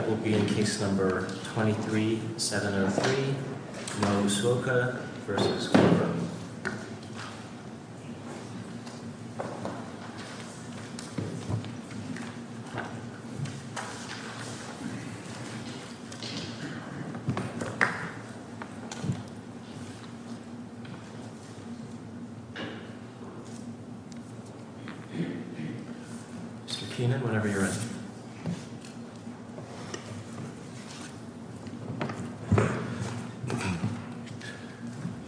That will be in Case No. 23-703, Nwosuocha v. Glover Mr. Keenan, whenever you're ready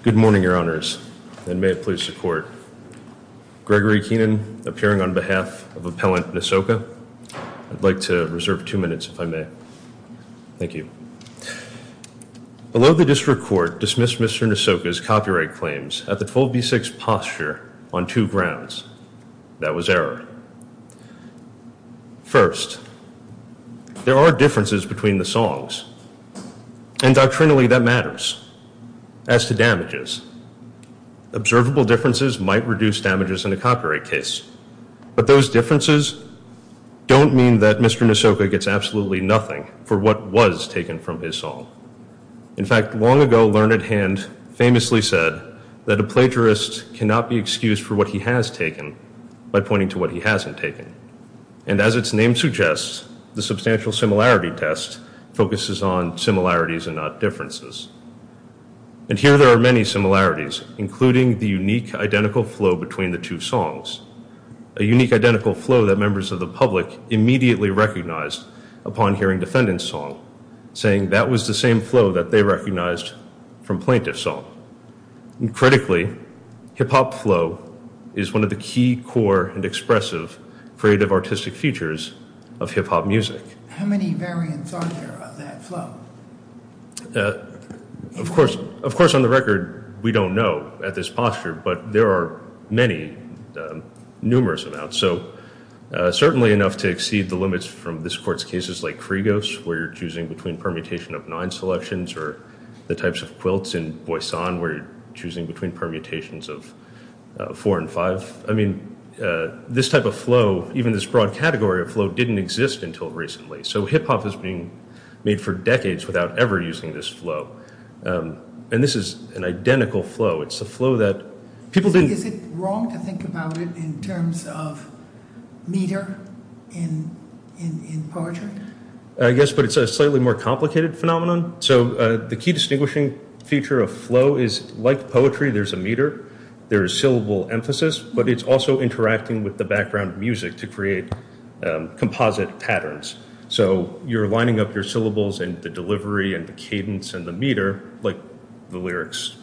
Good morning, Your Honors, and may it please the Court. Gregory Keenan, appearing on behalf of Appellant Nwosuocha. I'd like to reserve two minutes, if I may. Thank you. Below the District Court dismissed Mr. Nwosuocha's copyright claims at the full B6 posture on two grounds. That was error. First, there are differences between the songs, and doctrinally that matters. As to damages, observable differences might reduce damages in a copyright case, but those differences don't mean that Mr. Nwosuocha gets absolutely nothing for what was taken from his song. In fact, long ago, Learned Hand famously said that a plagiarist cannot be excused for what he has taken by pointing to what he hasn't taken. And as its name suggests, the Substantial Similarity Test focuses on similarities and not differences. And here there are many similarities, including the unique identical flow between the two songs, a unique identical flow that members of the public immediately recognized upon hearing Defendant's song, saying that was the same flow that they recognized from Plaintiff's song. That flow is one of the key core and expressive creative artistic features of hip-hop music. How many variants are there of that flow? Of course, on the record, we don't know at this posture, but there are many, numerous amounts. So certainly enough to exceed the limits from this Court's cases like Frigos, where you're choosing between permutation of nine selections, or the types of quilts in Boisson, where you're choosing between permutations of four and five. I mean, this type of flow, even this broad category of flow, didn't exist until recently. So hip-hop is being made for decades without ever using this flow. And this is an identical flow. It's a flow that people didn't... Is it wrong to think about it in terms of meter in poetry? Yes, but it's a slightly more complicated phenomenon. So the key distinguishing feature of flow is, like poetry, there's a meter, there is syllable emphasis, but it's also interacting with the background music to create composite patterns. So you're lining up your syllables and the delivery and the cadence and the meter, like the lyrics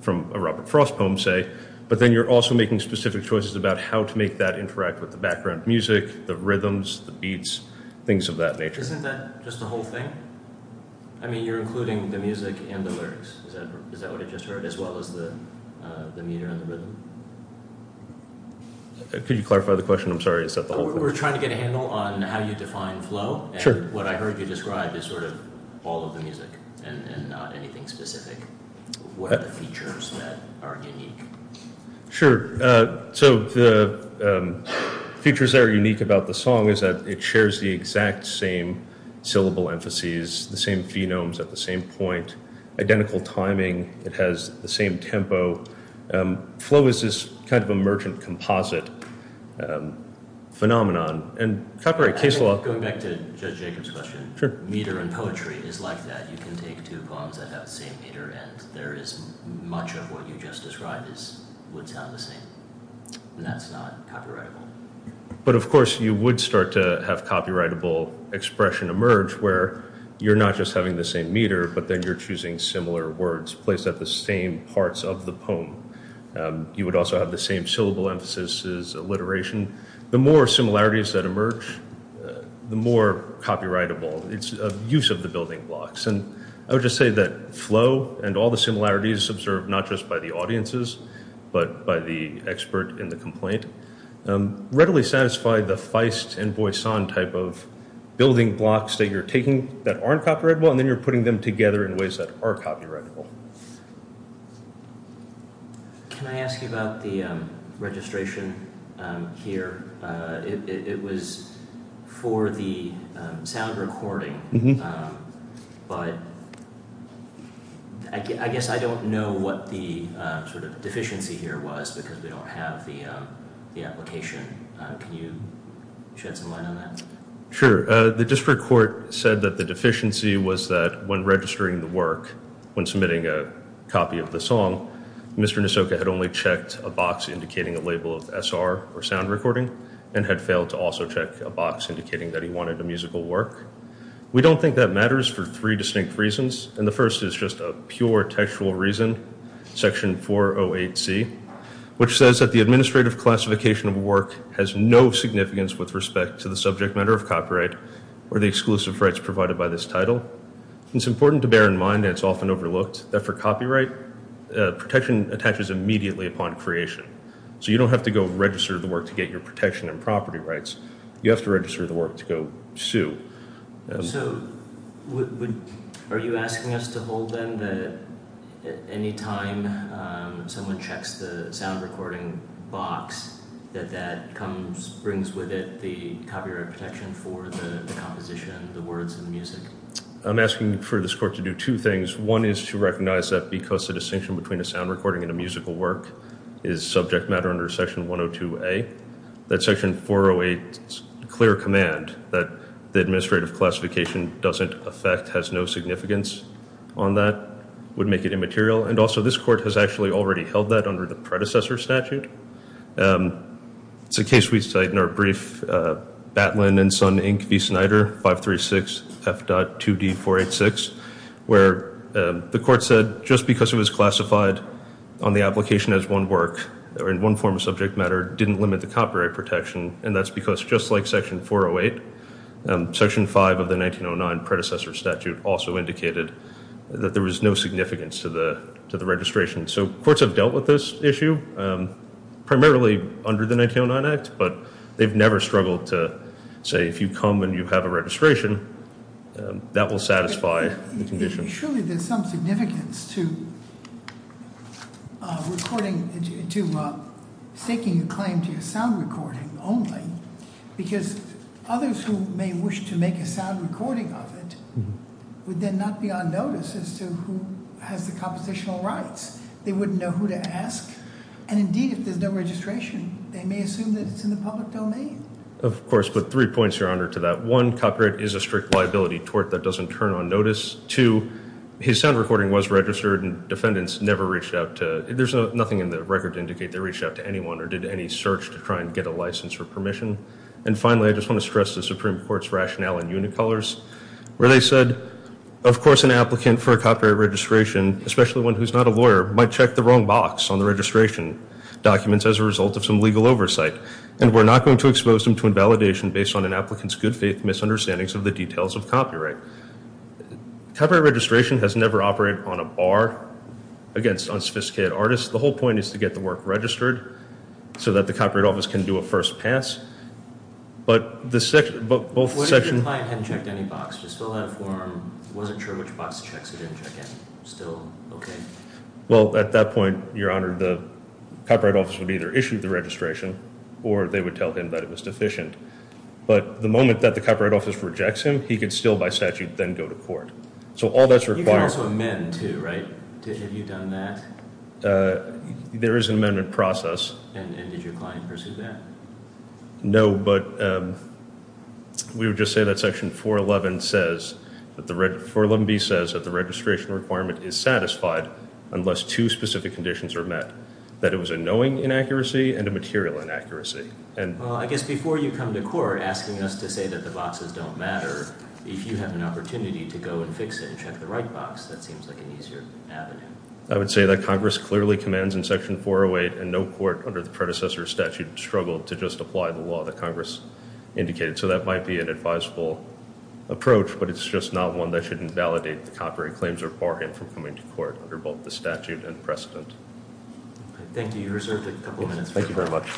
from a Robert Frost poem, say, but then you're also making specific choices about how to make that interact with the background music, the rhythms, the beats, things of that nature. Isn't that just the whole thing? I mean, you're including the music and the lyrics. Is that what I just heard, as well as the meter and the rhythm? Could you clarify the question? I'm sorry, is that the whole thing? We're trying to get a handle on how you define flow. Sure. And what I heard you describe is sort of all of the music and not anything specific. What are the features that are unique? Sure. So the features that are unique about the song is that it shares the exact same syllable emphases, the same phenomes at the same point, identical timing, it has the same tempo. Flow is this kind of emergent composite phenomenon. And copyright case law... Going back to Judge Jacobs' question, meter in poetry is like that. You can take two poems that have the same meter and there is much of what you just described would sound the same. And that's not copyrightable. But of course, you would start to have copyrightable expression emerge where you're not just having the same meter, but then you're choosing similar words placed at the same parts of the poem. You would also have the same syllable emphases, alliteration. The more similarities that emerge, the more copyrightable it's use of the building blocks. And I would just say that flow and all the similarities observed not just by the audiences, but by the expert in the complaint, readily satisfied the feist and Boisson type of building blocks that you're taking that aren't copyrightable and then you're putting them together in ways that are copyrightable. Can I ask you about the registration here? It was for the sound recording. But I guess I don't know what the deficiency here was because we don't have the application. Can you shed some light on that? Sure. The district court said that the deficiency was that when registering the work, when submitting a copy of the song, Mr. Nisoka had only checked a box indicating a label of SR or sound recording and had failed to also check a box indicating that he wanted a musical work. We don't think that matters for three distinct reasons. And the first is just a pure textual reason, section 408C, which says that the administrative classification of work has no significance with respect to the subject matter of copyright or the exclusive rights provided by this title. It's important to bear in mind, and it's often overlooked, that for copyright, protection attaches immediately upon creation. So you don't have to go register the work to get your protection and property rights. You have to register the work to go sue. So are you asking us to hold then that any time someone checks the sound recording box, that that brings with it the copyright protection for the composition, the words, and the music? I'm asking for this court to do two things. One is to recognize that because the distinction between a sound recording and a musical work is subject matter under section 102A, that section 408's clear command that the administrative classification doesn't affect, has no significance on that would make it immaterial. And also this court has actually already held that under the predecessor statute. It's a case we cite in our brief, Batlin and Son, Inc., v. Snyder, 536F.2D486, where the court said just because it was classified on the application as one work or in one form of subject matter didn't limit the copyright protection. And that's because just like section 408, section 5 of the 1909 predecessor statute also indicated that there was no significance to the registration. So courts have dealt with this issue primarily under the 1909 Act, but they've never struggled to say if you come and you have a registration, that will satisfy the condition. Surely there's some significance to seeking a claim to your sound recording only, because others who may wish to make a sound recording of it would then not be on notice as to who has the compositional rights. They wouldn't know who to ask. And indeed, if there's no registration, they may assume that it's in the public domain. Of course, but three points, Your Honor, to that. One, copyright is a strict liability tort that doesn't turn on notice. Two, his sound recording was registered and defendants never reached out to, there's nothing in the record to indicate they reached out to anyone or did any search to try and get a license or permission. And finally, I just want to stress the Supreme Court's rationale in unit colors, where they said, of course, an applicant for a copyright registration, especially one who's not a lawyer, might check the wrong box on the registration documents as a result of some legal oversight, and we're not going to expose them to invalidation based on an applicant's good faith misunderstandings of the details of copyright. Copyright registration has never operated on a bar against unsophisticated artists. The whole point is to get the work registered so that the Copyright Office can do a first pass. But both sections... What if the client hadn't checked any box, just filled out a form, wasn't sure which box to check, so they didn't check any, still okay? Well, at that point, Your Honor, the Copyright Office would either issue the registration or they would tell him that it was deficient. But the moment that the Copyright Office rejects him, he can still, by statute, then go to court. So all that's required... You can also amend, too, right? Have you done that? There is an amendment process. And did your client pursue that? No, but we would just say that Section 411B says that the registration requirement is satisfied unless two specific conditions are met, that it was a knowing inaccuracy and a material inaccuracy. Well, I guess before you come to court asking us to say that the boxes don't matter, if you have an opportunity to go and fix it and check the right box, that seems like an easier avenue. I would say that Congress clearly commands in Section 408 and no court under the predecessor statute struggled to just apply the law that Congress indicated. So that might be an advisable approach, but it's just not one that should invalidate the copyright claims or bar him from coming to court under both the statute and precedent. Thank you. You're reserved a couple of minutes. Thank you very much.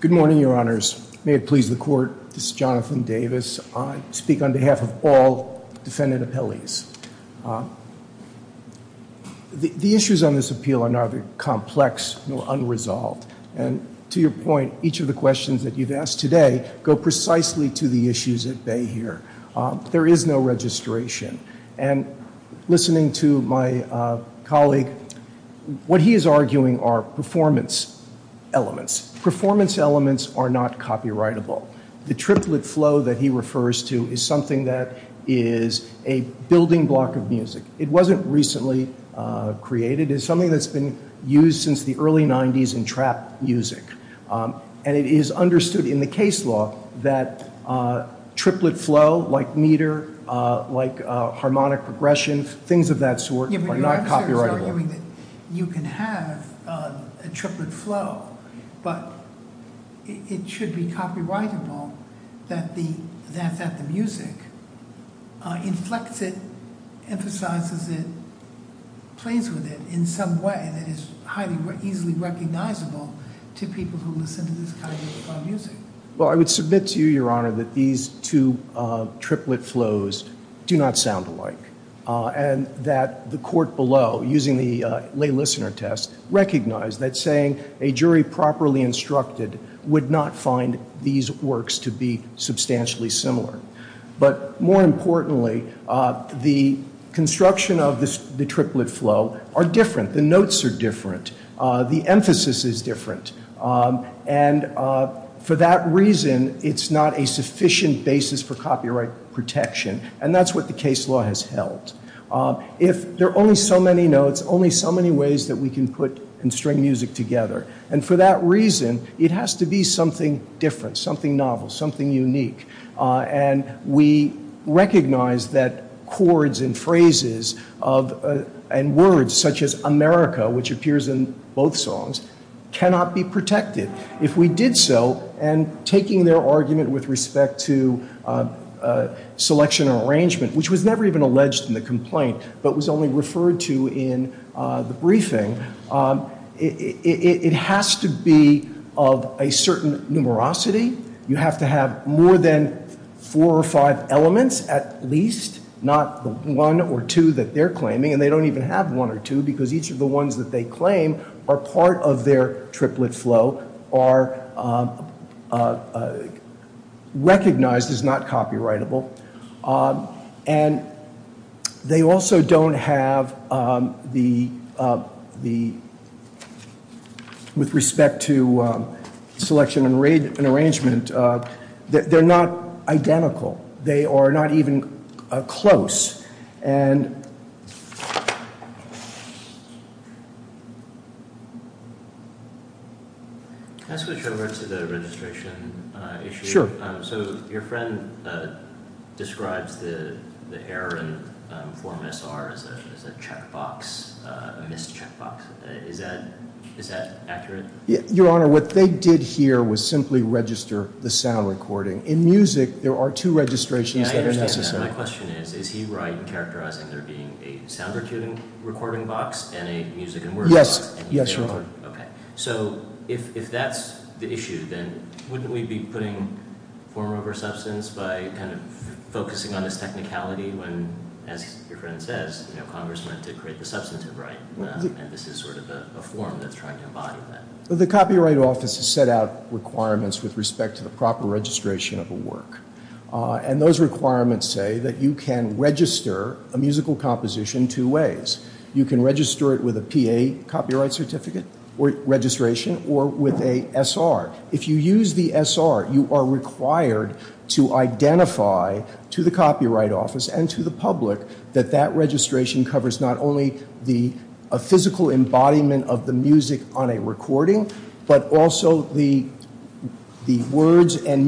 Good morning, Your Honors. May it please the Court, this is Jonathan Davis. I speak on behalf of all defendant appellees. The issues on this appeal are neither complex nor unresolved. And to your point, each of the questions that you've asked today go precisely to the issues at bay here. There is no registration. And listening to my colleague, what he is arguing are performance elements. Performance elements are not copyrightable. The triplet flow that he refers to is something that is a building block of music. It wasn't recently created. It's something that's been used since the early 90s in trap music. And it is understood in the case law that triplet flow, like meter, like harmonic regressions, things of that sort, are not copyrightable. You can have a triplet flow, but it should be copyrightable that the music inflects it, emphasizes it, plays with it in some way that is highly easily recognizable to people who listen to this kind of music. Well, I would submit to you, Your Honor, that these two triplet flows do not sound alike. And that the court below, using the lay listener test, recognized that saying a jury properly instructed would not find these works to be substantially similar. But more importantly, the construction of the triplet flow are different. The notes are different. The emphasis is different. And for that reason, it's not a sufficient basis for copyright protection. And that's what the case law has held. If there are only so many notes, only so many ways that we can put and string music together. And for that reason, it has to be something different, something novel, something unique. And we recognize that chords and phrases and words such as America, which appears in both songs, cannot be protected. If we did so, and taking their argument with respect to selection or arrangement, which was never even alleged in the complaint, but was only referred to in the briefing, it has to be of a certain numerosity. You have to have more than four or five elements at least, not the one or two that they're claiming. And they don't even have one or two, because each of the ones that they claim are part of their triplet flow, are recognized as not copyrightable. And they also don't have the, with respect to selection and arrangement, they're not identical. They are not even close. And... Can I switch over to the registration issue? Sure. So your friend describes the error in Form SR as a checkbox, a missed checkbox. Is that accurate? Your Honor, what they did here was simply register the sound recording. In music, there are two registrations that are necessary. My question is, is he right in characterizing there being a sound recording box and a music and words box? Yes, Your Honor. Okay. So if that's the issue, then wouldn't we be putting form over substance by kind of focusing on this technicality when, as your friend says, you know, Congress went to create the substantive right, and this is sort of a form that's trying to embody that? The Copyright Office has set out requirements with respect to the proper registration of a work. And those requirements say that you can register a musical composition two ways. You can register it with a PA copyright certificate registration or with a SR. If you use the SR, you are required to identify to the Copyright Office and to the public that that registration covers not only the physical embodiment of the music on a recording, but also the words and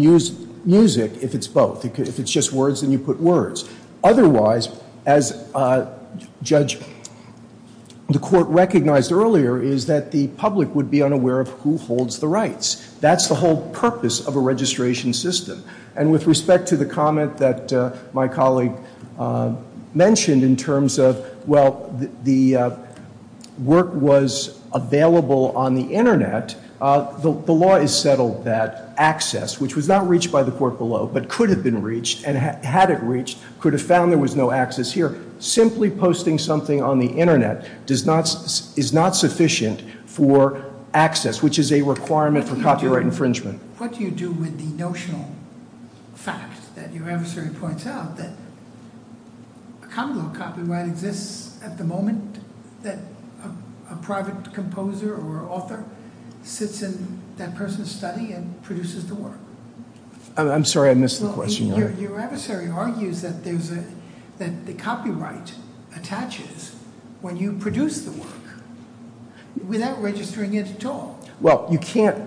music, if it's both. If it's just words, then you put words. Otherwise, as Judge, the Court recognized earlier, is that the public would be unaware of who holds the rights. That's the whole purpose of a registration system. And with respect to the comment that my colleague mentioned in terms of, well, the work was available on the Internet, the law has settled that access, which was not reached by the Court below, but could have been reached and had it reached, could have found there was no access here. Simply posting something on the Internet is not sufficient for access, which is a requirement for copyright infringement. What do you do with the notional fact that your adversary points out that a common law copyright exists at the moment that a private composer or author sits in that person's study and produces the work? I'm sorry, I missed the question. Your adversary argues that the copyright attaches when you produce the work without registering it at all. Well, you can't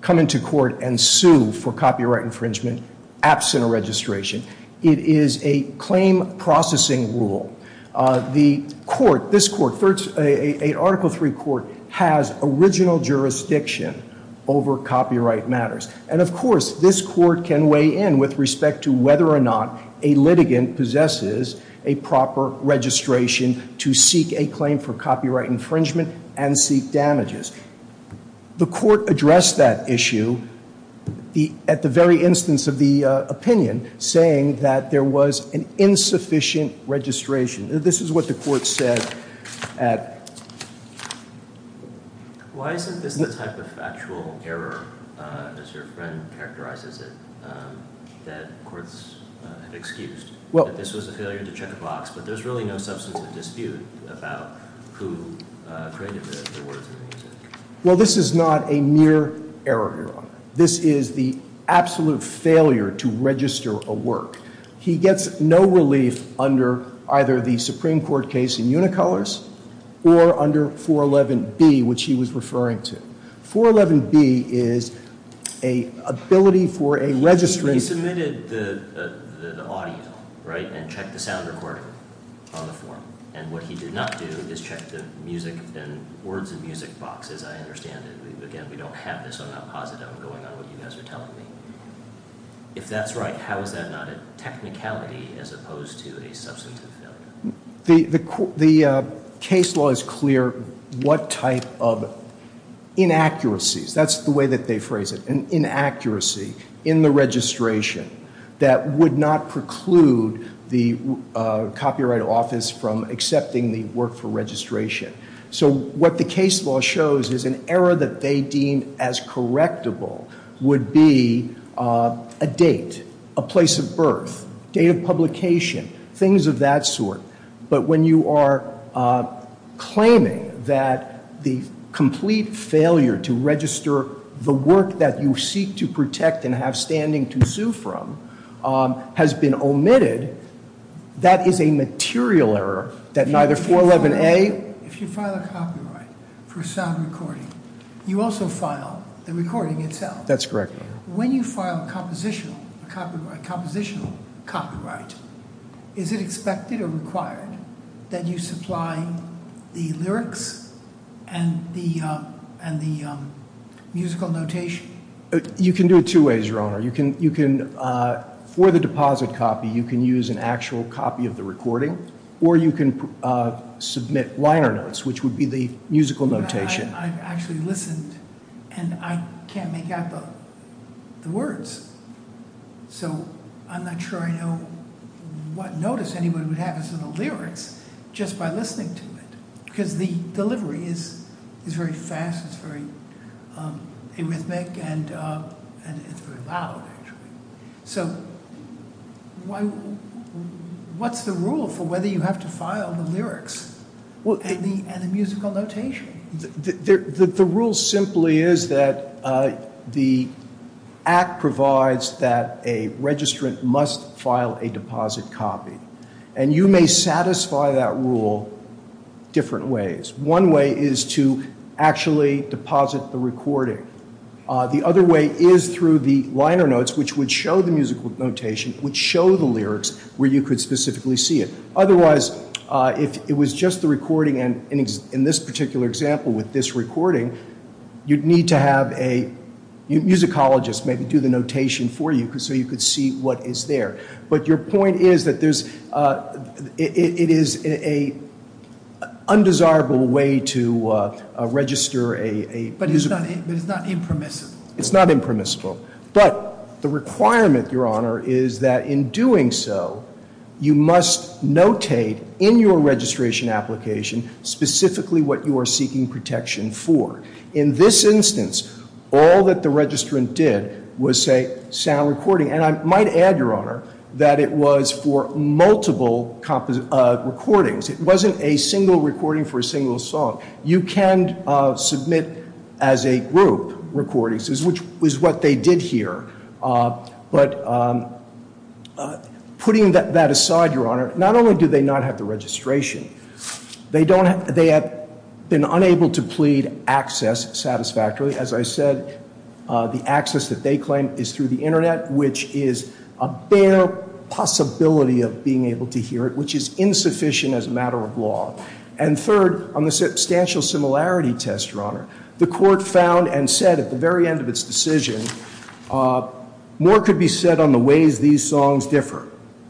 come into court and sue for copyright infringement absent a registration. It is a claim processing rule. The Court, this Court, Article III Court, has original jurisdiction over copyright matters. And, of course, this Court can weigh in with respect to whether or not a litigant possesses a proper registration to seek a claim for copyright infringement and seek damages. The Court addressed that issue at the very instance of the opinion, saying that there was an insufficient registration. This is what the Court said. Why isn't this the type of factual error, as your friend characterizes it, that courts have excused? That this was a failure to check a box, but there's really no substance of dispute about who created the words and music. Well, this is not a mere error, Your Honor. This is the absolute failure to register a work. He gets no relief under either the Supreme Court case in Unicolors or under 411B, which he was referring to. 411B is an ability for a registry. He submitted the audio, right, and checked the sound recording on the form. And what he did not do is check the music and words and music boxes. I understand it. Again, we don't have this on a positive going on what you guys are telling me. If that's right, how is that not a technicality as opposed to a substantive failure? The case law is clear what type of inaccuracies, that's the way that they phrase it, an inaccuracy in the registration that would not preclude the Copyright Office from accepting the work for registration. So what the case law shows is an error that they deem as correctable would be a date, a place of birth, date of publication, things of that sort. But when you are claiming that the complete failure to register the work that you seek to protect and have standing to sue from has been omitted, that is a material error that neither 411A- If you file a copyright for a sound recording, you also file the recording itself. That's correct, Your Honor. When you file a compositional copyright, is it expected or required that you supply the lyrics and the musical notation? Your Honor, for the deposit copy, you can use an actual copy of the recording, or you can submit liner notes, which would be the musical notation. I've actually listened, and I can't make out the words. So I'm not sure I know what notice anyone would have as to the lyrics just by listening to it. Because the delivery is very fast, it's very rhythmic, and it's very loud, actually. So what's the rule for whether you have to file the lyrics and the musical notation? The rule simply is that the Act provides that a registrant must file a deposit copy. And you may satisfy that rule different ways. One way is to actually deposit the recording. The other way is through the liner notes, which would show the musical notation, which show the lyrics where you could specifically see it. Otherwise, if it was just the recording, and in this particular example with this recording, you'd need to have a musicologist maybe do the notation for you so you could see what is there. But your point is that it is an undesirable way to register a musical. But it's not impermissible. It's not impermissible. But the requirement, Your Honor, is that in doing so, you must notate in your registration application specifically what you are seeking protection for. In this instance, all that the registrant did was say, sound recording. And I might add, Your Honor, that it was for multiple recordings. It wasn't a single recording for a single song. You can submit as a group recordings, which is what they did here. But putting that aside, Your Honor, not only do they not have the registration, they have been unable to plead access satisfactorily. As I said, the access that they claim is through the internet, which is a bare possibility of being able to hear it, which is insufficient as a matter of law. And third, on the substantial similarity test, Your Honor, the court found and said at the very end of its decision, more could be said on the ways these songs differ,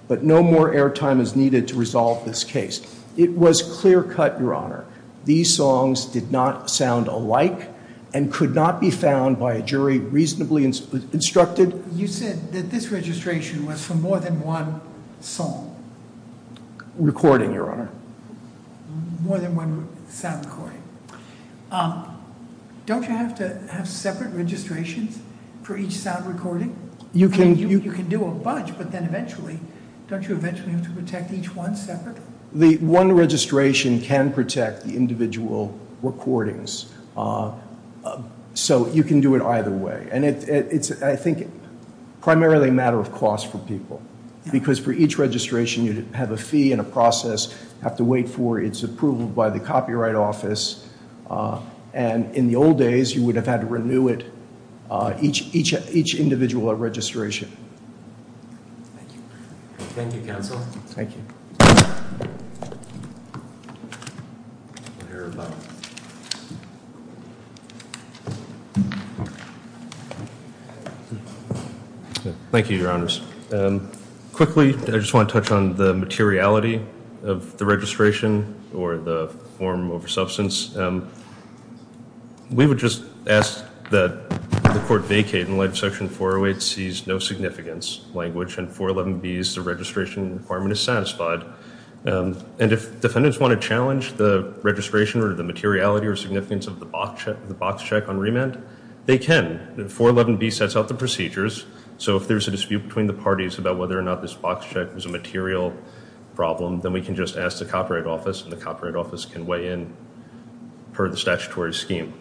but no more airtime is needed to resolve this case. It was clear cut, Your Honor. These songs did not sound alike and could not be found by a jury reasonably instructed. You said that this registration was for more than one song. Recording, Your Honor. More than one sound recording. Don't you have to have separate registrations for each sound recording? You can do a bunch, but then eventually, don't you eventually have to protect each one separate? The one registration can protect the individual recordings. So you can do it either way. And it's, I think, primarily a matter of cost for people, because for each registration you have a fee and a process you have to wait for. It's approved by the Copyright Office. And in the old days, you would have had to renew it, each individual registration. Thank you. Thank you, counsel. Thank you. Thank you, Your Honors. Quickly, I just want to touch on the materiality of the registration or the form over substance. We would just ask that the court vacate in light of Section 408C's no significance language and 411B's the registration requirement is satisfied. And if defendants want to challenge the registration or the materiality or significance of the box check on remand, they can. 411B sets out the procedures. So if there's a dispute between the parties about whether or not this box check is a material problem, then we can just ask the Copyright Office, and the Copyright Office can weigh in per the statutory scheme.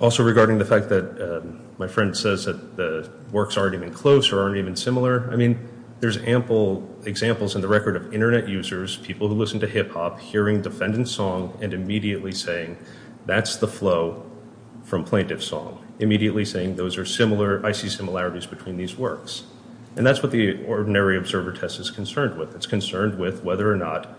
Also regarding the fact that my friend says that the works aren't even close or aren't even similar, I mean, there's ample examples in the record of Internet users, people who listen to hip hop, hearing defendant's song and immediately saying that's the flow from plaintiff's song, immediately saying those are similar, I see similarities between these works. And that's what the ordinary observer test is concerned with. It's concerned with whether or not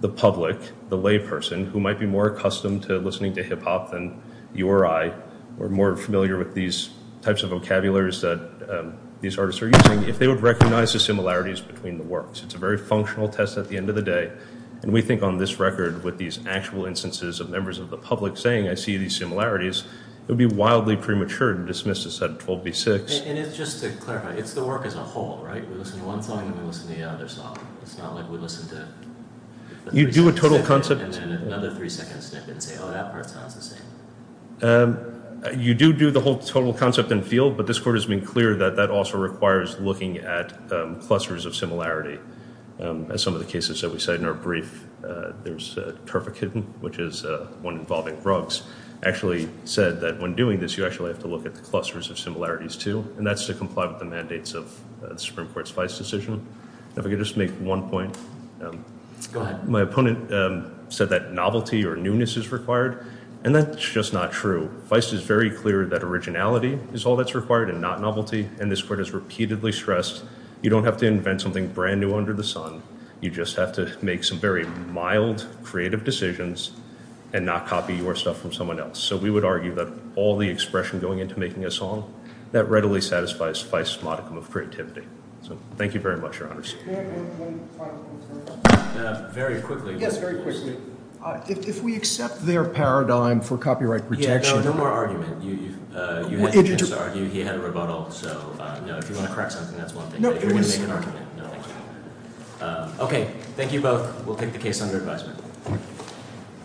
the public, the layperson, who might be more accustomed to listening to hip hop than you or I, or more familiar with these types of vocabularies that these artists are using, if they would recognize the similarities between the works. It's a very functional test at the end of the day, and we think on this record with these actual instances of members of the public saying I see these similarities, it would be wildly premature to dismiss this at 12B6. And just to clarify, it's the work as a whole, right? We listen to one song and then we listen to the other song. It's not like we listen to a three-second snippet and then another three-second snippet and say, oh, that part sounds the same. You do do the whole total concept and feel, but this Court has been clear that that also requires looking at clusters of similarity. As some of the cases that we cite in our brief, there's Perfect Hidden, which is one involving drugs, actually said that when doing this, you actually have to look at the clusters of similarities, too, and that's to comply with the mandates of the Supreme Court's Feist decision. If I could just make one point. Go ahead. My opponent said that novelty or newness is required, and that's just not true. Feist is very clear that originality is all that's required and not novelty, and this Court has repeatedly stressed you don't have to invent something brand new under the sun. You just have to make some very mild, creative decisions and not copy your stuff from someone else. So we would argue that all the expression going into making a song, that readily satisfies Feist's modicum of creativity. So thank you very much, Your Honors. Very quickly. Yes, very quickly. If we accept their paradigm for copyright protection. No more argument. You had to just argue he had a rebuttal, so if you want to correct something, that's one thing, but if you want to make an argument, no. Okay, thank you both. We'll take the case under advisement.